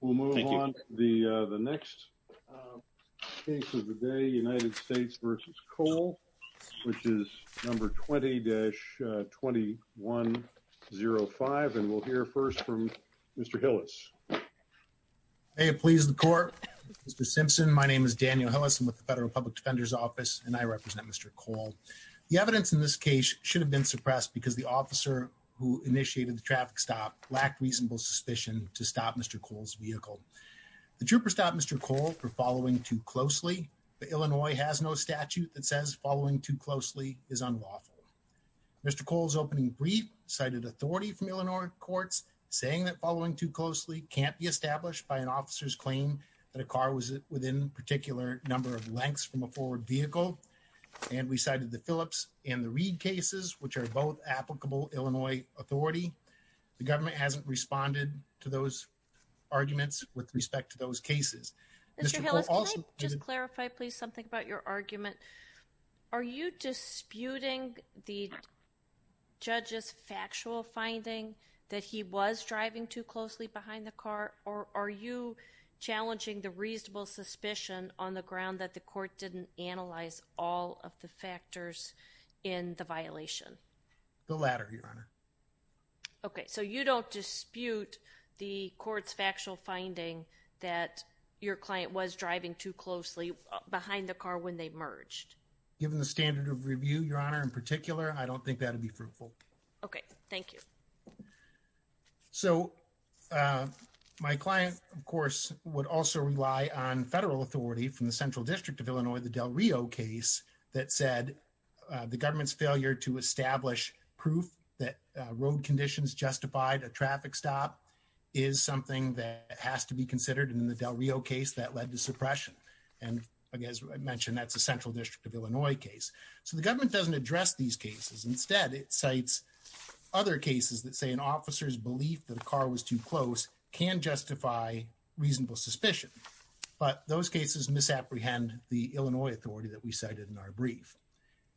We'll move on to the next case of the day, United States v. Cole, which is No. 20-2105 and we'll hear first from Mr. Hillis. May it please the Court, Mr. Simpson, my name is Daniel Hillis. I'm with the Federal Public Defender's Office and I represent Mr. Cole. The evidence in this case should have been suppressed because the officer who initiated the traffic stop lacked reasonable suspicion to stop Mr. Cole's vehicle. The trooper stopped Mr. Cole for following too closely, but Illinois has no statute that says following too closely is unlawful. Mr. Cole's opening brief cited authority from Illinois courts saying that following too closely can't be established by an officer's claim that a car was within a particular number of lengths from a forward vehicle. And we cited the Phillips and the Reed cases, which are both applicable Illinois authority. The government hasn't responded to those arguments with respect to those cases. Mr. Hillis, can I just clarify please something about your argument? Are you disputing the judge's factual finding that he was driving too closely behind the car or are you challenging the reasonable suspicion on the ground that the court didn't analyze all of the factors in the violation? Okay, so you don't dispute the court's factual finding that your client was driving too closely behind the car when they merged. Given the standard of review, Your Honor, in particular, I don't think that would be fruitful. Okay, thank you. So my client, of course, would also rely on federal authority from the Central District of Illinois, the Del Rio case that said the government's failure to establish proof that road conditions justified a traffic stop is something that has to be considered in the Del Rio case that led to suppression. And as I mentioned, that's a Central District of Illinois case. So the government doesn't address these cases. Instead, it cites other cases that say an officer's belief that a car was too close can justify reasonable suspicion. But those cases misapprehend the Illinois authority that we cited in our brief.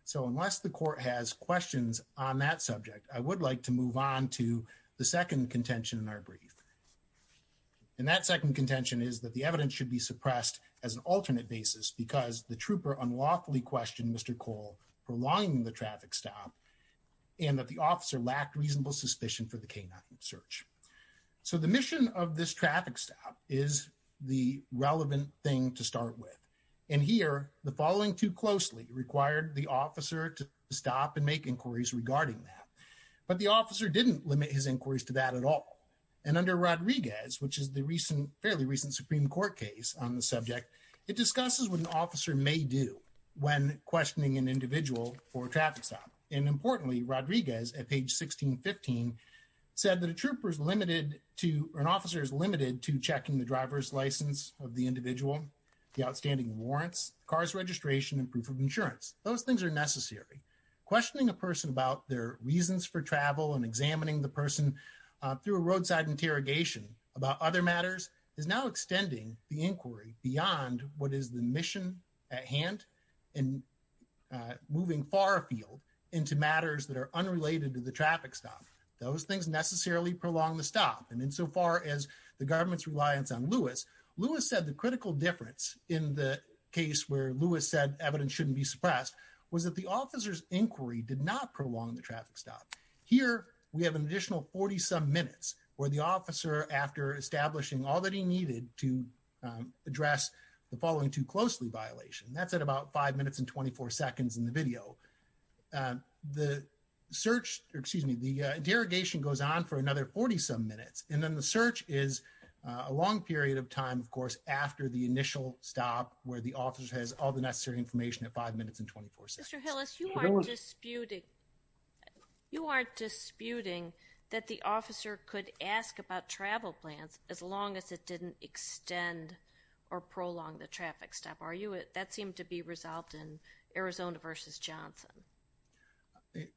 So unless the court has questions on that subject, I would like to move on to the second contention in our brief. And that second contention is that the evidence should be suppressed as an alternate basis because the trooper unlawfully questioned Mr. Cole for lying in the traffic stop and that the officer lacked reasonable suspicion for the canine search. So the mission of this traffic stop is the relevant thing to start with. And here, the following too closely required the officer to stop and make inquiries regarding that. But the officer didn't limit his inquiries to that at all. And under Rodriguez, which is the fairly recent Supreme Court case on the subject, it discusses what an officer may do when questioning an individual for a traffic stop. And importantly, Rodriguez at page 1615 said that an officer is limited to checking the driver's license of the individual, the outstanding warrants, car's registration, and proof of insurance. Those things are necessary. Questioning a person about their reasons for travel and examining the person through a roadside interrogation about other matters is now extending the inquiry beyond what is the mission at hand and moving far afield into matters that are unrelated to the traffic stop. Those things necessarily prolong the stop. And insofar as the government's reliance on Lewis, Lewis said the critical difference in the case where Lewis said evidence shouldn't be suppressed was that the officer's inquiry did not prolong the traffic stop. Here, we have an additional 40-some minutes where the officer, after establishing all that he needed to address the following too closely violation, that's at about 5 minutes and 24 seconds in the video. The search, excuse me, the interrogation goes on for another 40-some minutes. And then the search is a long period of time, of course, after the initial stop where the officer has all the necessary information at 5 minutes and 24 seconds. Mr. Hillis, you aren't disputing that the officer could ask about travel plans as long as it didn't extend or prolong the traffic stop, are you? That seemed to be resolved in Arizona versus Johnson.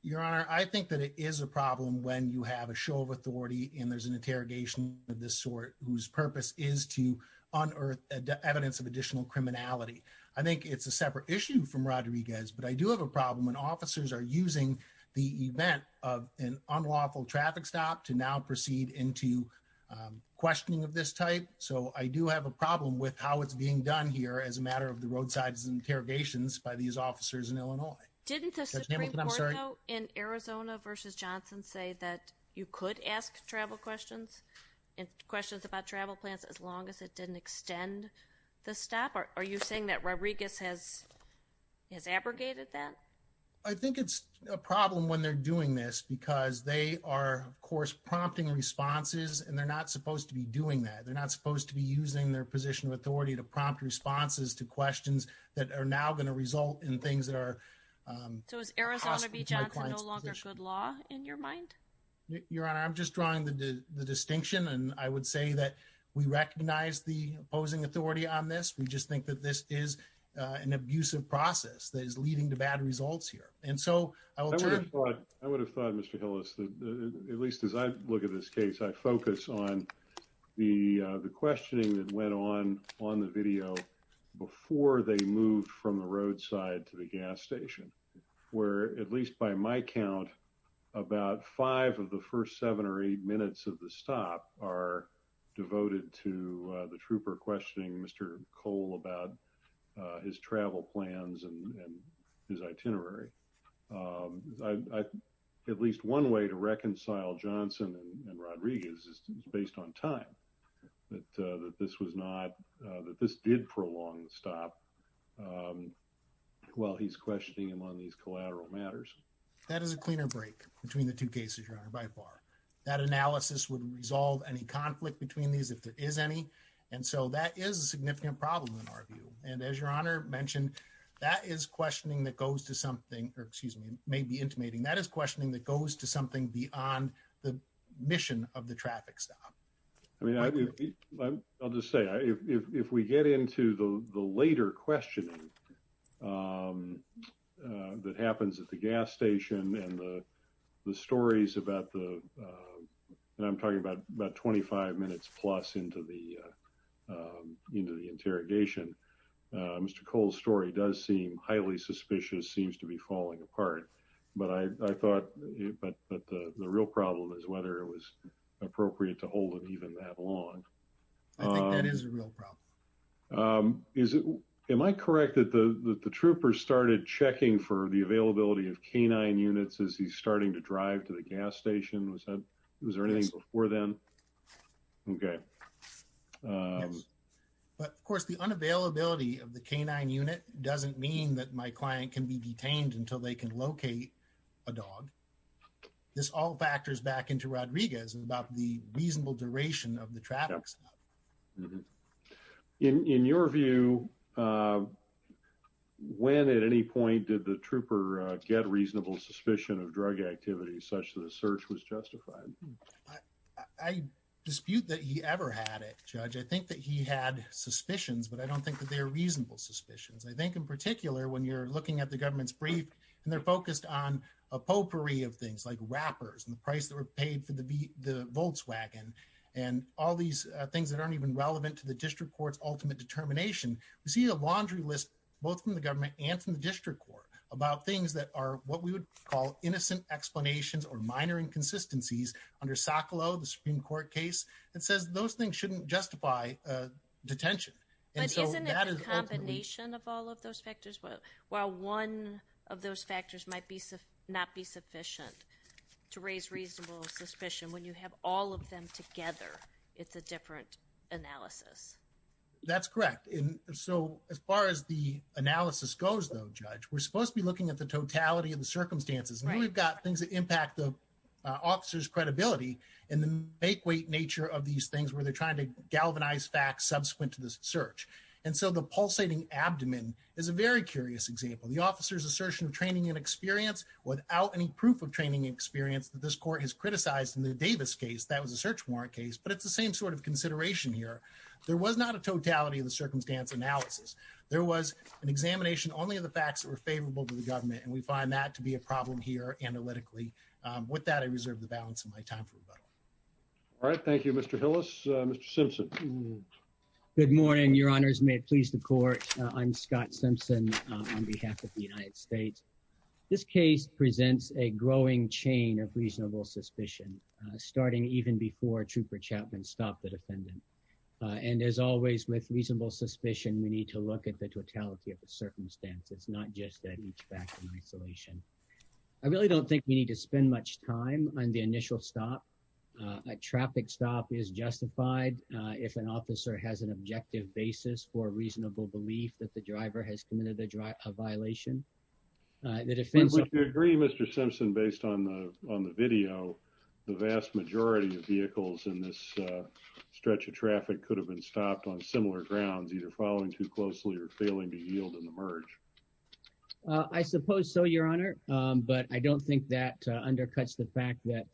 Your Honor, I think that it is a problem when you have a show of authority and there's an interrogation of this sort whose purpose is to unearth evidence of additional criminality. I think it's a separate issue from Rodriguez, but I do have a problem when officers are using the event of an unlawful traffic stop to now proceed into questioning of this type. So I do have a problem with how it's being done here as a matter of the roadside interrogations by these officers in Illinois. Didn't the Supreme Court in Arizona versus Johnson say that you could ask travel questions and questions about travel plans as long as it didn't extend the stop? Are you saying that Rodriguez has abrogated that? I think it's a problem when they're doing this because they are, of course, prompting responses and they're not supposed to be doing that. They're not supposed to be using their position of authority to prompt responses to questions that are now going to result in things that are. So is Arizona v. Johnson no longer good law in your mind? Your Honor, I'm just drawing the distinction and I would say that we recognize the opposing authority on this. We just think that this is an abusive process that is leading to bad results here. I would have thought, Mr. Hillis, at least as I look at this case, I focus on the questioning that went on on the video before they moved from the roadside to the gas station. Where at least by my count, about five of the first seven or eight minutes of the stop are devoted to the trooper questioning Mr. Cole about his travel plans and his itinerary. At least one way to reconcile Johnson and Rodriguez is based on time. That this was not that this did prolong the stop while he's questioning him on these collateral matters. That is a cleaner break between the two cases, Your Honor, by far. That analysis would resolve any conflict between these if there is any. And so that is a significant problem in our view. And as Your Honor mentioned, that is questioning that goes to something or excuse me, maybe intimating. That is questioning that goes to something beyond the mission of the traffic stop. I mean, I'll just say if we get into the later questioning that happens at the gas station and the stories about the and I'm talking about about 25 minutes plus into the interrogation. Mr. Cole's story does seem highly suspicious seems to be falling apart. But I thought, but the real problem is whether it was appropriate to hold it even that long. That is a real problem. Is it. Am I correct that the troopers started checking for the availability of canine units as he's starting to drive to the gas station was that was there anything before then. Okay. But, of course, the unavailability of the canine unit doesn't mean that my client can be detained until they can locate a dog. This all factors back into Rodriguez about the reasonable duration of the traffic stop. In your view, when at any point did the trooper get reasonable suspicion of drug activity such that a search was justified. I dispute that he ever had a judge. I think that he had suspicions, but I don't think that they're reasonable suspicions. I think in particular, when you're looking at the government's brief, and they're focused on a potpourri of things like rappers and the price that were paid for the Volkswagen and all these things that aren't even relevant to the district court's ultimate determination. We see a laundry list, both from the government and from the district court about things that are what we would call innocent explanations or minor inconsistencies under Socolow, the Supreme Court case that says those things shouldn't justify detention. And so that is a combination of all of those factors. Well, while one of those factors might be not be sufficient to raise reasonable suspicion when you have all of them together. It's a different analysis. That's correct. And so as far as the analysis goes, though, Judge, we're supposed to be looking at the totality of the circumstances. And we've got things that impact the officer's credibility and the make weight nature of these things where they're trying to galvanize facts subsequent to this search. And so the pulsating abdomen is a very curious example. The officer's assertion of training and experience without any proof of training experience that this court has criticized in the Davis case. That was a search warrant case, but it's the same sort of consideration here. There was not a totality of the circumstance analysis. There was an examination only of the facts that were favorable to the government. And we find that to be a problem here analytically. With that, I reserve the balance of my time for rebuttal. All right. Thank you, Mr. Hillis. Mr. Simpson. Good morning, Your Honors. May it please the court. I'm Scott Simpson on behalf of the United States. This case presents a growing chain of reasonable suspicion, starting even before Trooper Chapman stopped the defendant. And as always, with reasonable suspicion, we need to look at the totality of the circumstances, not just that each back in isolation. I really don't think we need to spend much time on the initial stop. A traffic stop is justified if an officer has an objective basis for reasonable belief that the driver has committed a violation. The defense would agree, Mr. Simpson, based on the on the video. The vast majority of vehicles in this stretch of traffic could have been stopped on similar grounds, either following too closely or failing to yield in the merge. I suppose so, Your Honor. But I don't think that undercuts the fact that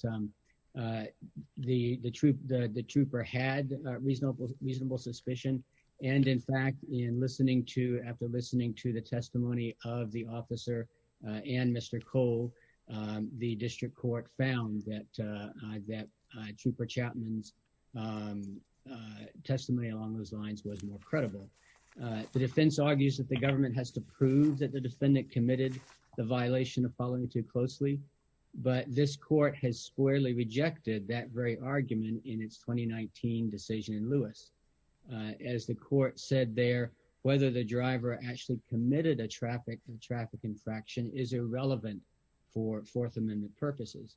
the troop, the trooper had reasonable, reasonable suspicion. And in fact, in listening to after listening to the testimony of the officer and Mr. Cole, the district court found that that trooper Chapman's testimony along those lines was more credible. The defense argues that the government has to prove that the defendant committed the violation of following too closely. But this court has squarely rejected that very argument in its 2019 decision in Lewis. As the court said there, whether the driver actually committed a traffic and traffic infraction is irrelevant for Fourth Amendment purposes.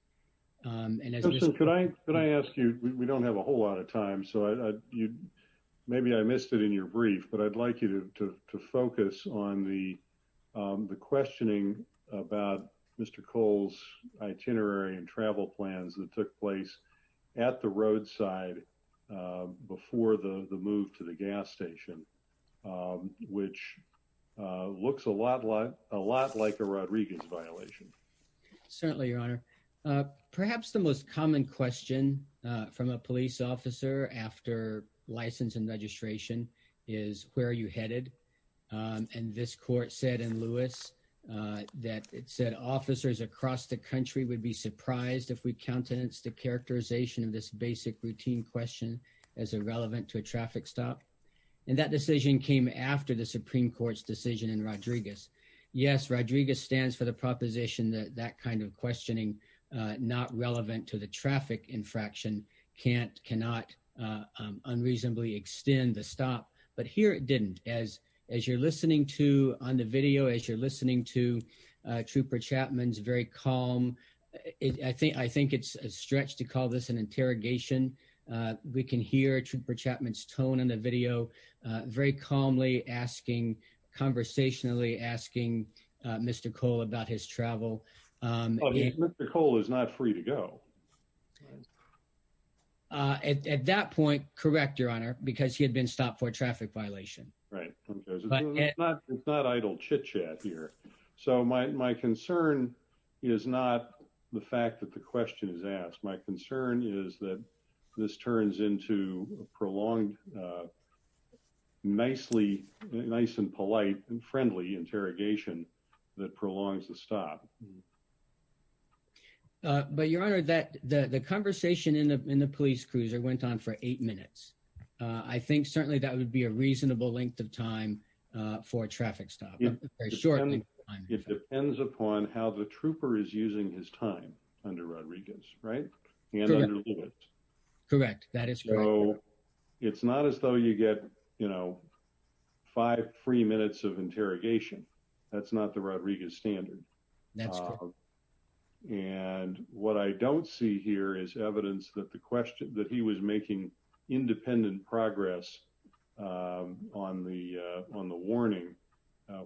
Could I ask you? We don't have a whole lot of time. So maybe I missed it in your brief, but I'd like you to focus on the the questioning about Mr. Cole's itinerary and travel plans that took place at the roadside before the move to the gas station, which looks a lot like a lot like a Rodriguez violation. Certainly, Your Honor. Perhaps the most common question from a police officer after license and registration is where are you headed? And this court said in Lewis that it said officers across the country would be surprised if we countenance the characterization of this basic routine question as irrelevant to a traffic stop. And that decision came after the Supreme Court's decision in Rodriguez. Yes, Rodriguez stands for the proposition that that kind of questioning not relevant to the traffic infraction can't cannot unreasonably extend the stop. But here it didn't. As as you're listening to on the video, as you're listening to Trooper Chapman's very calm. I think I think it's a stretch to call this an interrogation. We can hear Trooper Chapman's tone in the video very calmly asking conversationally asking Mr. Cole about his travel. Mr. Cole is not free to go. At that point, correct, Your Honor, because he had been stopped for a traffic violation. Right. But it's not idle chitchat here. So my concern is not the fact that the question is asked. My concern is that this turns into a prolonged, nicely, nice and polite and friendly interrogation that prolongs the stop. But Your Honor, that the conversation in the police cruiser went on for eight minutes. I think certainly that would be a reasonable length of time for a traffic stop. Sure. It depends upon how the trooper is using his time under Rodriguez. Right. Correct. That is. So it's not as though you get, you know, five free minutes of interrogation. That's not the Rodriguez standard. And what I don't see here is evidence that the question that he was making independent progress on the on the warning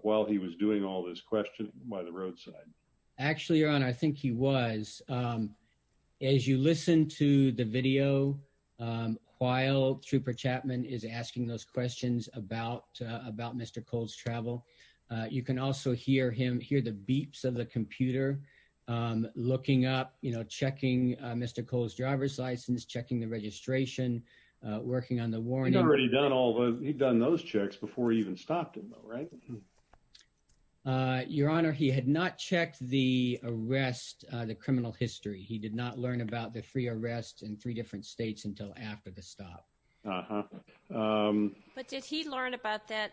while he was doing all this question by the roadside. Actually, Your Honor, I think he was. As you listen to the video while Trooper Chapman is asking those questions about about Mr. Cole's travel, you can also hear him hear the beeps of the computer looking up, you know, checking Mr. Cole's driver's license, checking the registration, working on the warning. Already done all those. He'd done those checks before he even stopped. Right. Your Honor, he had not checked the arrest, the criminal history. He did not learn about the free arrest in three different states until after the stop. But did he learn about that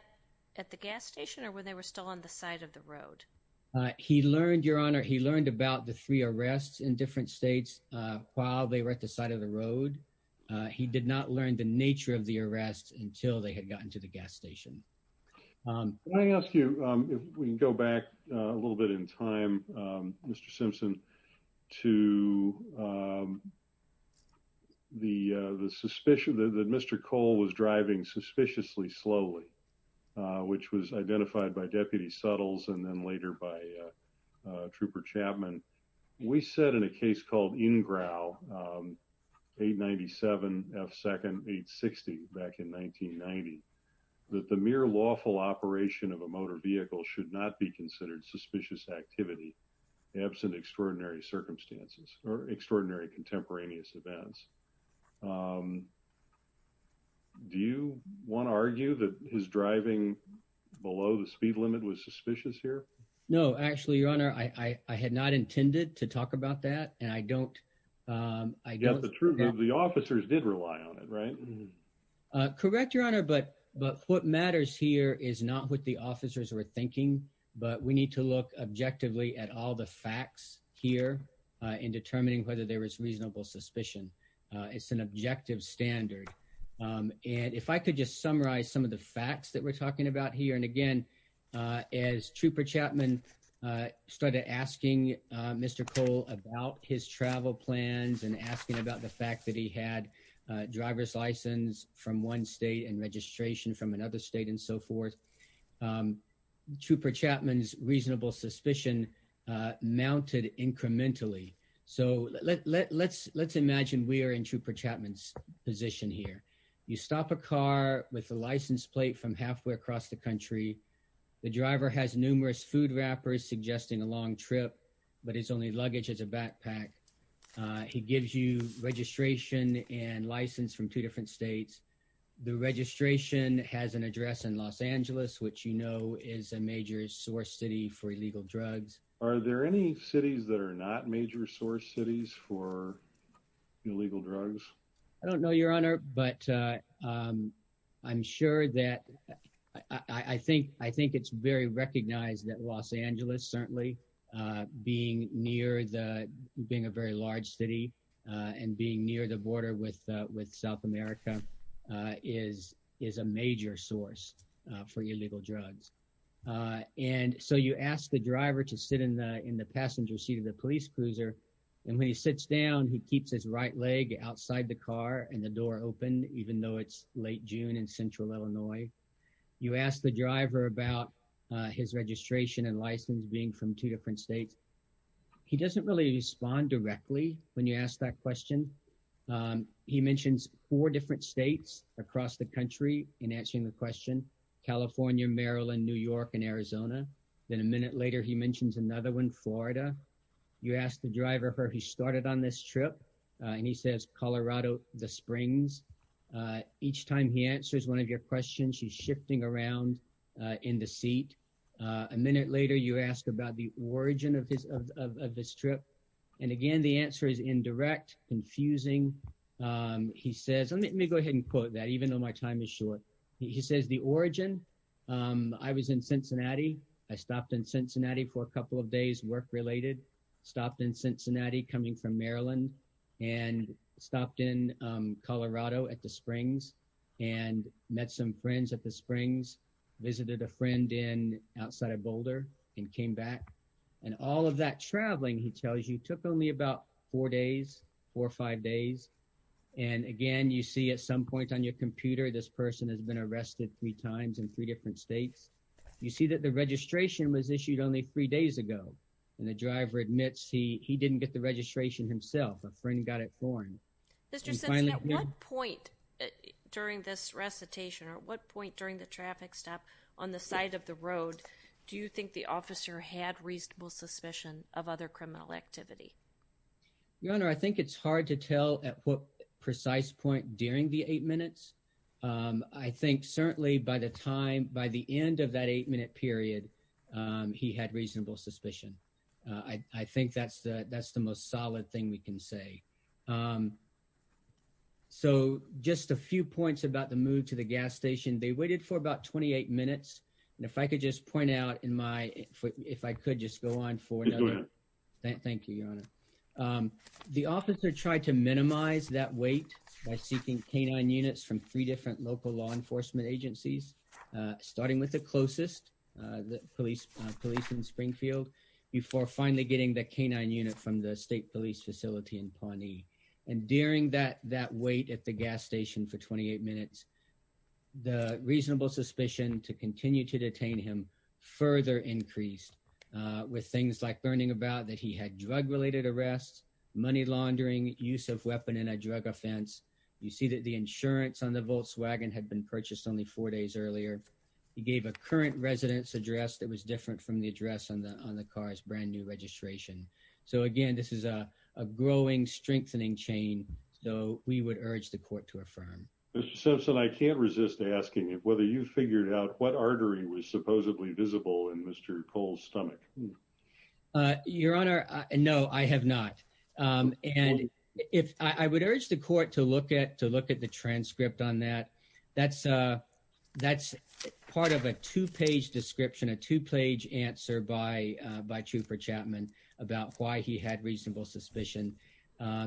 at the gas station or when they were still on the side of the road? He learned, Your Honor. He learned about the three arrests in different states while they were at the side of the road. He did not learn the nature of the arrest until they had gotten to the gas station. I ask you if we can go back a little bit in time, Mr. Simpson, to the suspicion that Mr. Cole was driving suspiciously slowly, which was identified by Deputy Suttles and then later by Trooper Chapman. We said in a case called Ingrao 897 F. Second 860 back in 1990 that the mere lawful operation of a motor vehicle should not be considered suspicious activity. Absent extraordinary circumstances or extraordinary contemporaneous events. Do you want to argue that his driving below the speed limit was suspicious here? No, actually, Your Honor, I had not intended to talk about that. And I don't I get the truth. The officers did rely on it. Right. Correct, Your Honor. But but what matters here is not what the officers were thinking. But we need to look objectively at all the facts here in determining whether there was reasonable suspicion. It's an objective standard. And if I could just summarize some of the facts that we're talking about here. And again, as Trooper Chapman started asking Mr. Cole about his travel plans and asking about the fact that he had a driver's license from one state and registration from another state and so forth. Trooper Chapman's reasonable suspicion mounted incrementally. So let's let's let's imagine we are in Trooper Chapman's position here. You stop a car with a license plate from halfway across the country. The driver has numerous food wrappers suggesting a long trip, but his only luggage is a backpack. He gives you registration and license from two different states. The registration has an address in Los Angeles, which, you know, is a major source city for illegal drugs. Are there any cities that are not major source cities for illegal drugs? I don't know, Your Honor, but I'm sure that I think I think it's very recognized that Los Angeles certainly being near the being a very large city and being near the border with with South America is is a major source for illegal drugs. And so you ask the driver to sit in the in the passenger seat of the police cruiser. And when he sits down, he keeps his right leg outside the car and the door open, even though it's late June in central Illinois. You ask the driver about his registration and license being from two different states. He doesn't really respond directly when you ask that question. He mentions four different states across the country in answering the question. California, Maryland, New York and Arizona. Then a minute later, he mentions another one, Florida. You ask the driver where he started on this trip. And he says Colorado Springs. Each time he answers one of your questions, she's shifting around in the seat. A minute later, you ask about the origin of this trip. And again, the answer is indirect, confusing. He says, let me go ahead and put that even though my time is short. He says the origin. I was in Cincinnati. I stopped in Cincinnati for a couple of days. Work related stopped in Cincinnati coming from Maryland and stopped in Colorado at the springs and met some friends at the springs. Visited a friend in outside of Boulder and came back. And all of that traveling, he tells you, took only about four days or five days. And again, you see at some point on your computer, this person has been arrested three times in three different states. You see that the registration was issued only three days ago. And the driver admits he didn't get the registration himself. A friend got it for him. At what point during this recitation or what point during the traffic stop on the side of the road? Do you think the officer had reasonable suspicion of other criminal activity? Your Honor, I think it's hard to tell at what precise point during the eight minutes. I think certainly by the time by the end of that eight minute period, he had reasonable suspicion. I think that's the that's the most solid thing we can say. So just a few points about the move to the gas station. They waited for about 28 minutes. And if I could just point out in my foot, if I could just go on for that. Thank you, Your Honor. The officer tried to minimize that weight by seeking canine units from three different local law enforcement agencies, starting with the closest police police in Springfield. Before finally getting the canine unit from the state police facility in Pawnee. And during that that wait at the gas station for 28 minutes, the reasonable suspicion to continue to detain him further increased with things like learning about that. He had drug related arrests, money laundering, use of weapon and a drug offense. You see that the insurance on the Volkswagen had been purchased only four days earlier. He gave a current residence address that was different from the address on the on the car's brand new registration. So, again, this is a growing, strengthening chain. So we would urge the court to affirm. So I can't resist asking whether you figured out what artery was supposedly visible in Mr. Cole's stomach. Your Honor. No, I have not. And if I would urge the court to look at to look at the transcript on that. That's that's part of a two page description, a two page answer by by Trooper Chapman about why he had reasonable suspicion.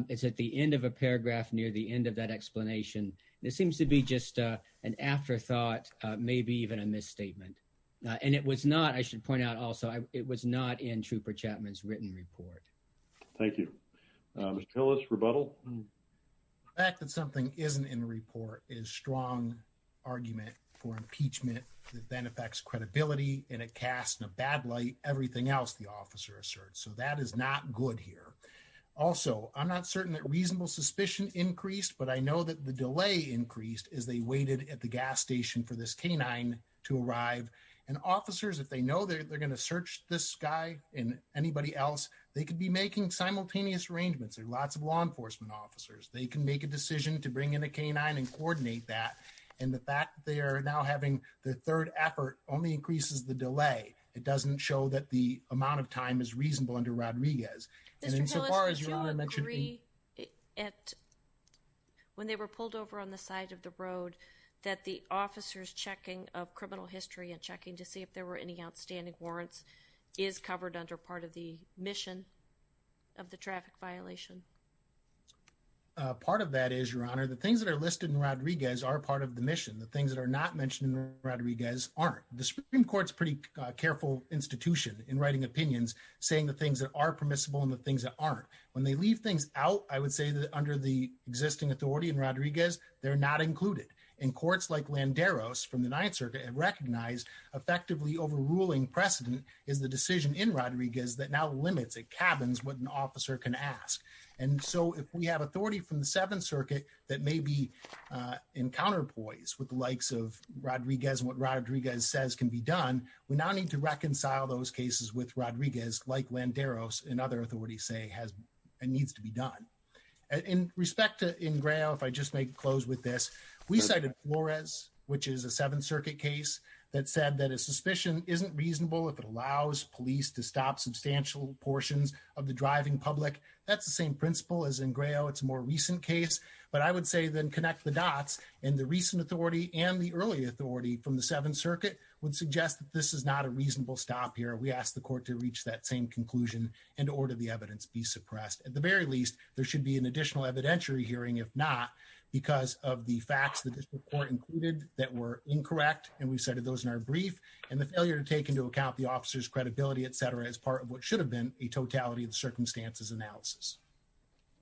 It's at the end of a paragraph near the end of that explanation. This seems to be just an afterthought, maybe even a misstatement. And it was not I should point out also, it was not in Trooper Chapman's written report. Thank you, Mr. Ellis. Rebuttal. The fact that something isn't in the report is strong argument for impeachment that then affects credibility in a cast in a bad light. Everything else the officer asserts. So that is not good here. Also, I'm not certain that reasonable suspicion increased, but I know that the delay increased as they waited at the gas station for this canine to arrive. And officers, if they know that they're going to search this guy and anybody else, they could be making simultaneous arrangements. There are lots of law enforcement officers. They can make a decision to bring in a canine and coordinate that. And the fact they are now having the third effort only increases the delay. It doesn't show that the amount of time is reasonable under Rodriguez. As far as you mentioned. When they were pulled over on the side of the road that the officers checking of criminal history and checking to see if there were any outstanding warrants is covered under part of the mission of the traffic violation. Part of that is your honor. The things that are listed in Rodriguez are part of the mission. The things that are not mentioned in Rodriguez aren't the Supreme Court's pretty careful institution in writing opinions, saying the things that are permissible and the things that aren't when they leave things out. I would say that under the existing authority and Rodriguez, they're not included in courts like Landeros from the 9th Circuit and recognized effectively overruling precedent is the decision in Rodriguez that now limits it cabins with an officer can ask. And so if we have authority from the 7th Circuit, that may be in counterpoise with the likes of Rodriguez and what Rodriguez says can be done. We now need to reconcile those cases with Rodriguez like Landeros and other authorities say has needs to be done. In respect to in Grail, if I just make close with this, we cited Flores, which is a 7th Circuit case that said that a suspicion isn't reasonable if it allows police to stop substantial portions of the driving public. That's the same principle as in Grail. It's more recent case, but I would say then connect the dots and the recent authority and the early authority from the 7th Circuit would suggest that this is not a reasonable stop here. We asked the court to reach that same conclusion and order the evidence be suppressed at the very least. There should be an additional evidentiary hearing, if not, because of the facts that this report included that were incorrect. And we cited those in our brief and the failure to take into account the officer's credibility, etc. As part of what should have been a totality of circumstances analysis.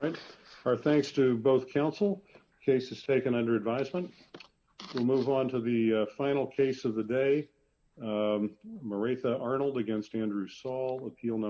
All right, our thanks to both counsel cases taken under advisement. We'll move on to the final case of the day. Maritha Arnold against Andrew Saul appeal number.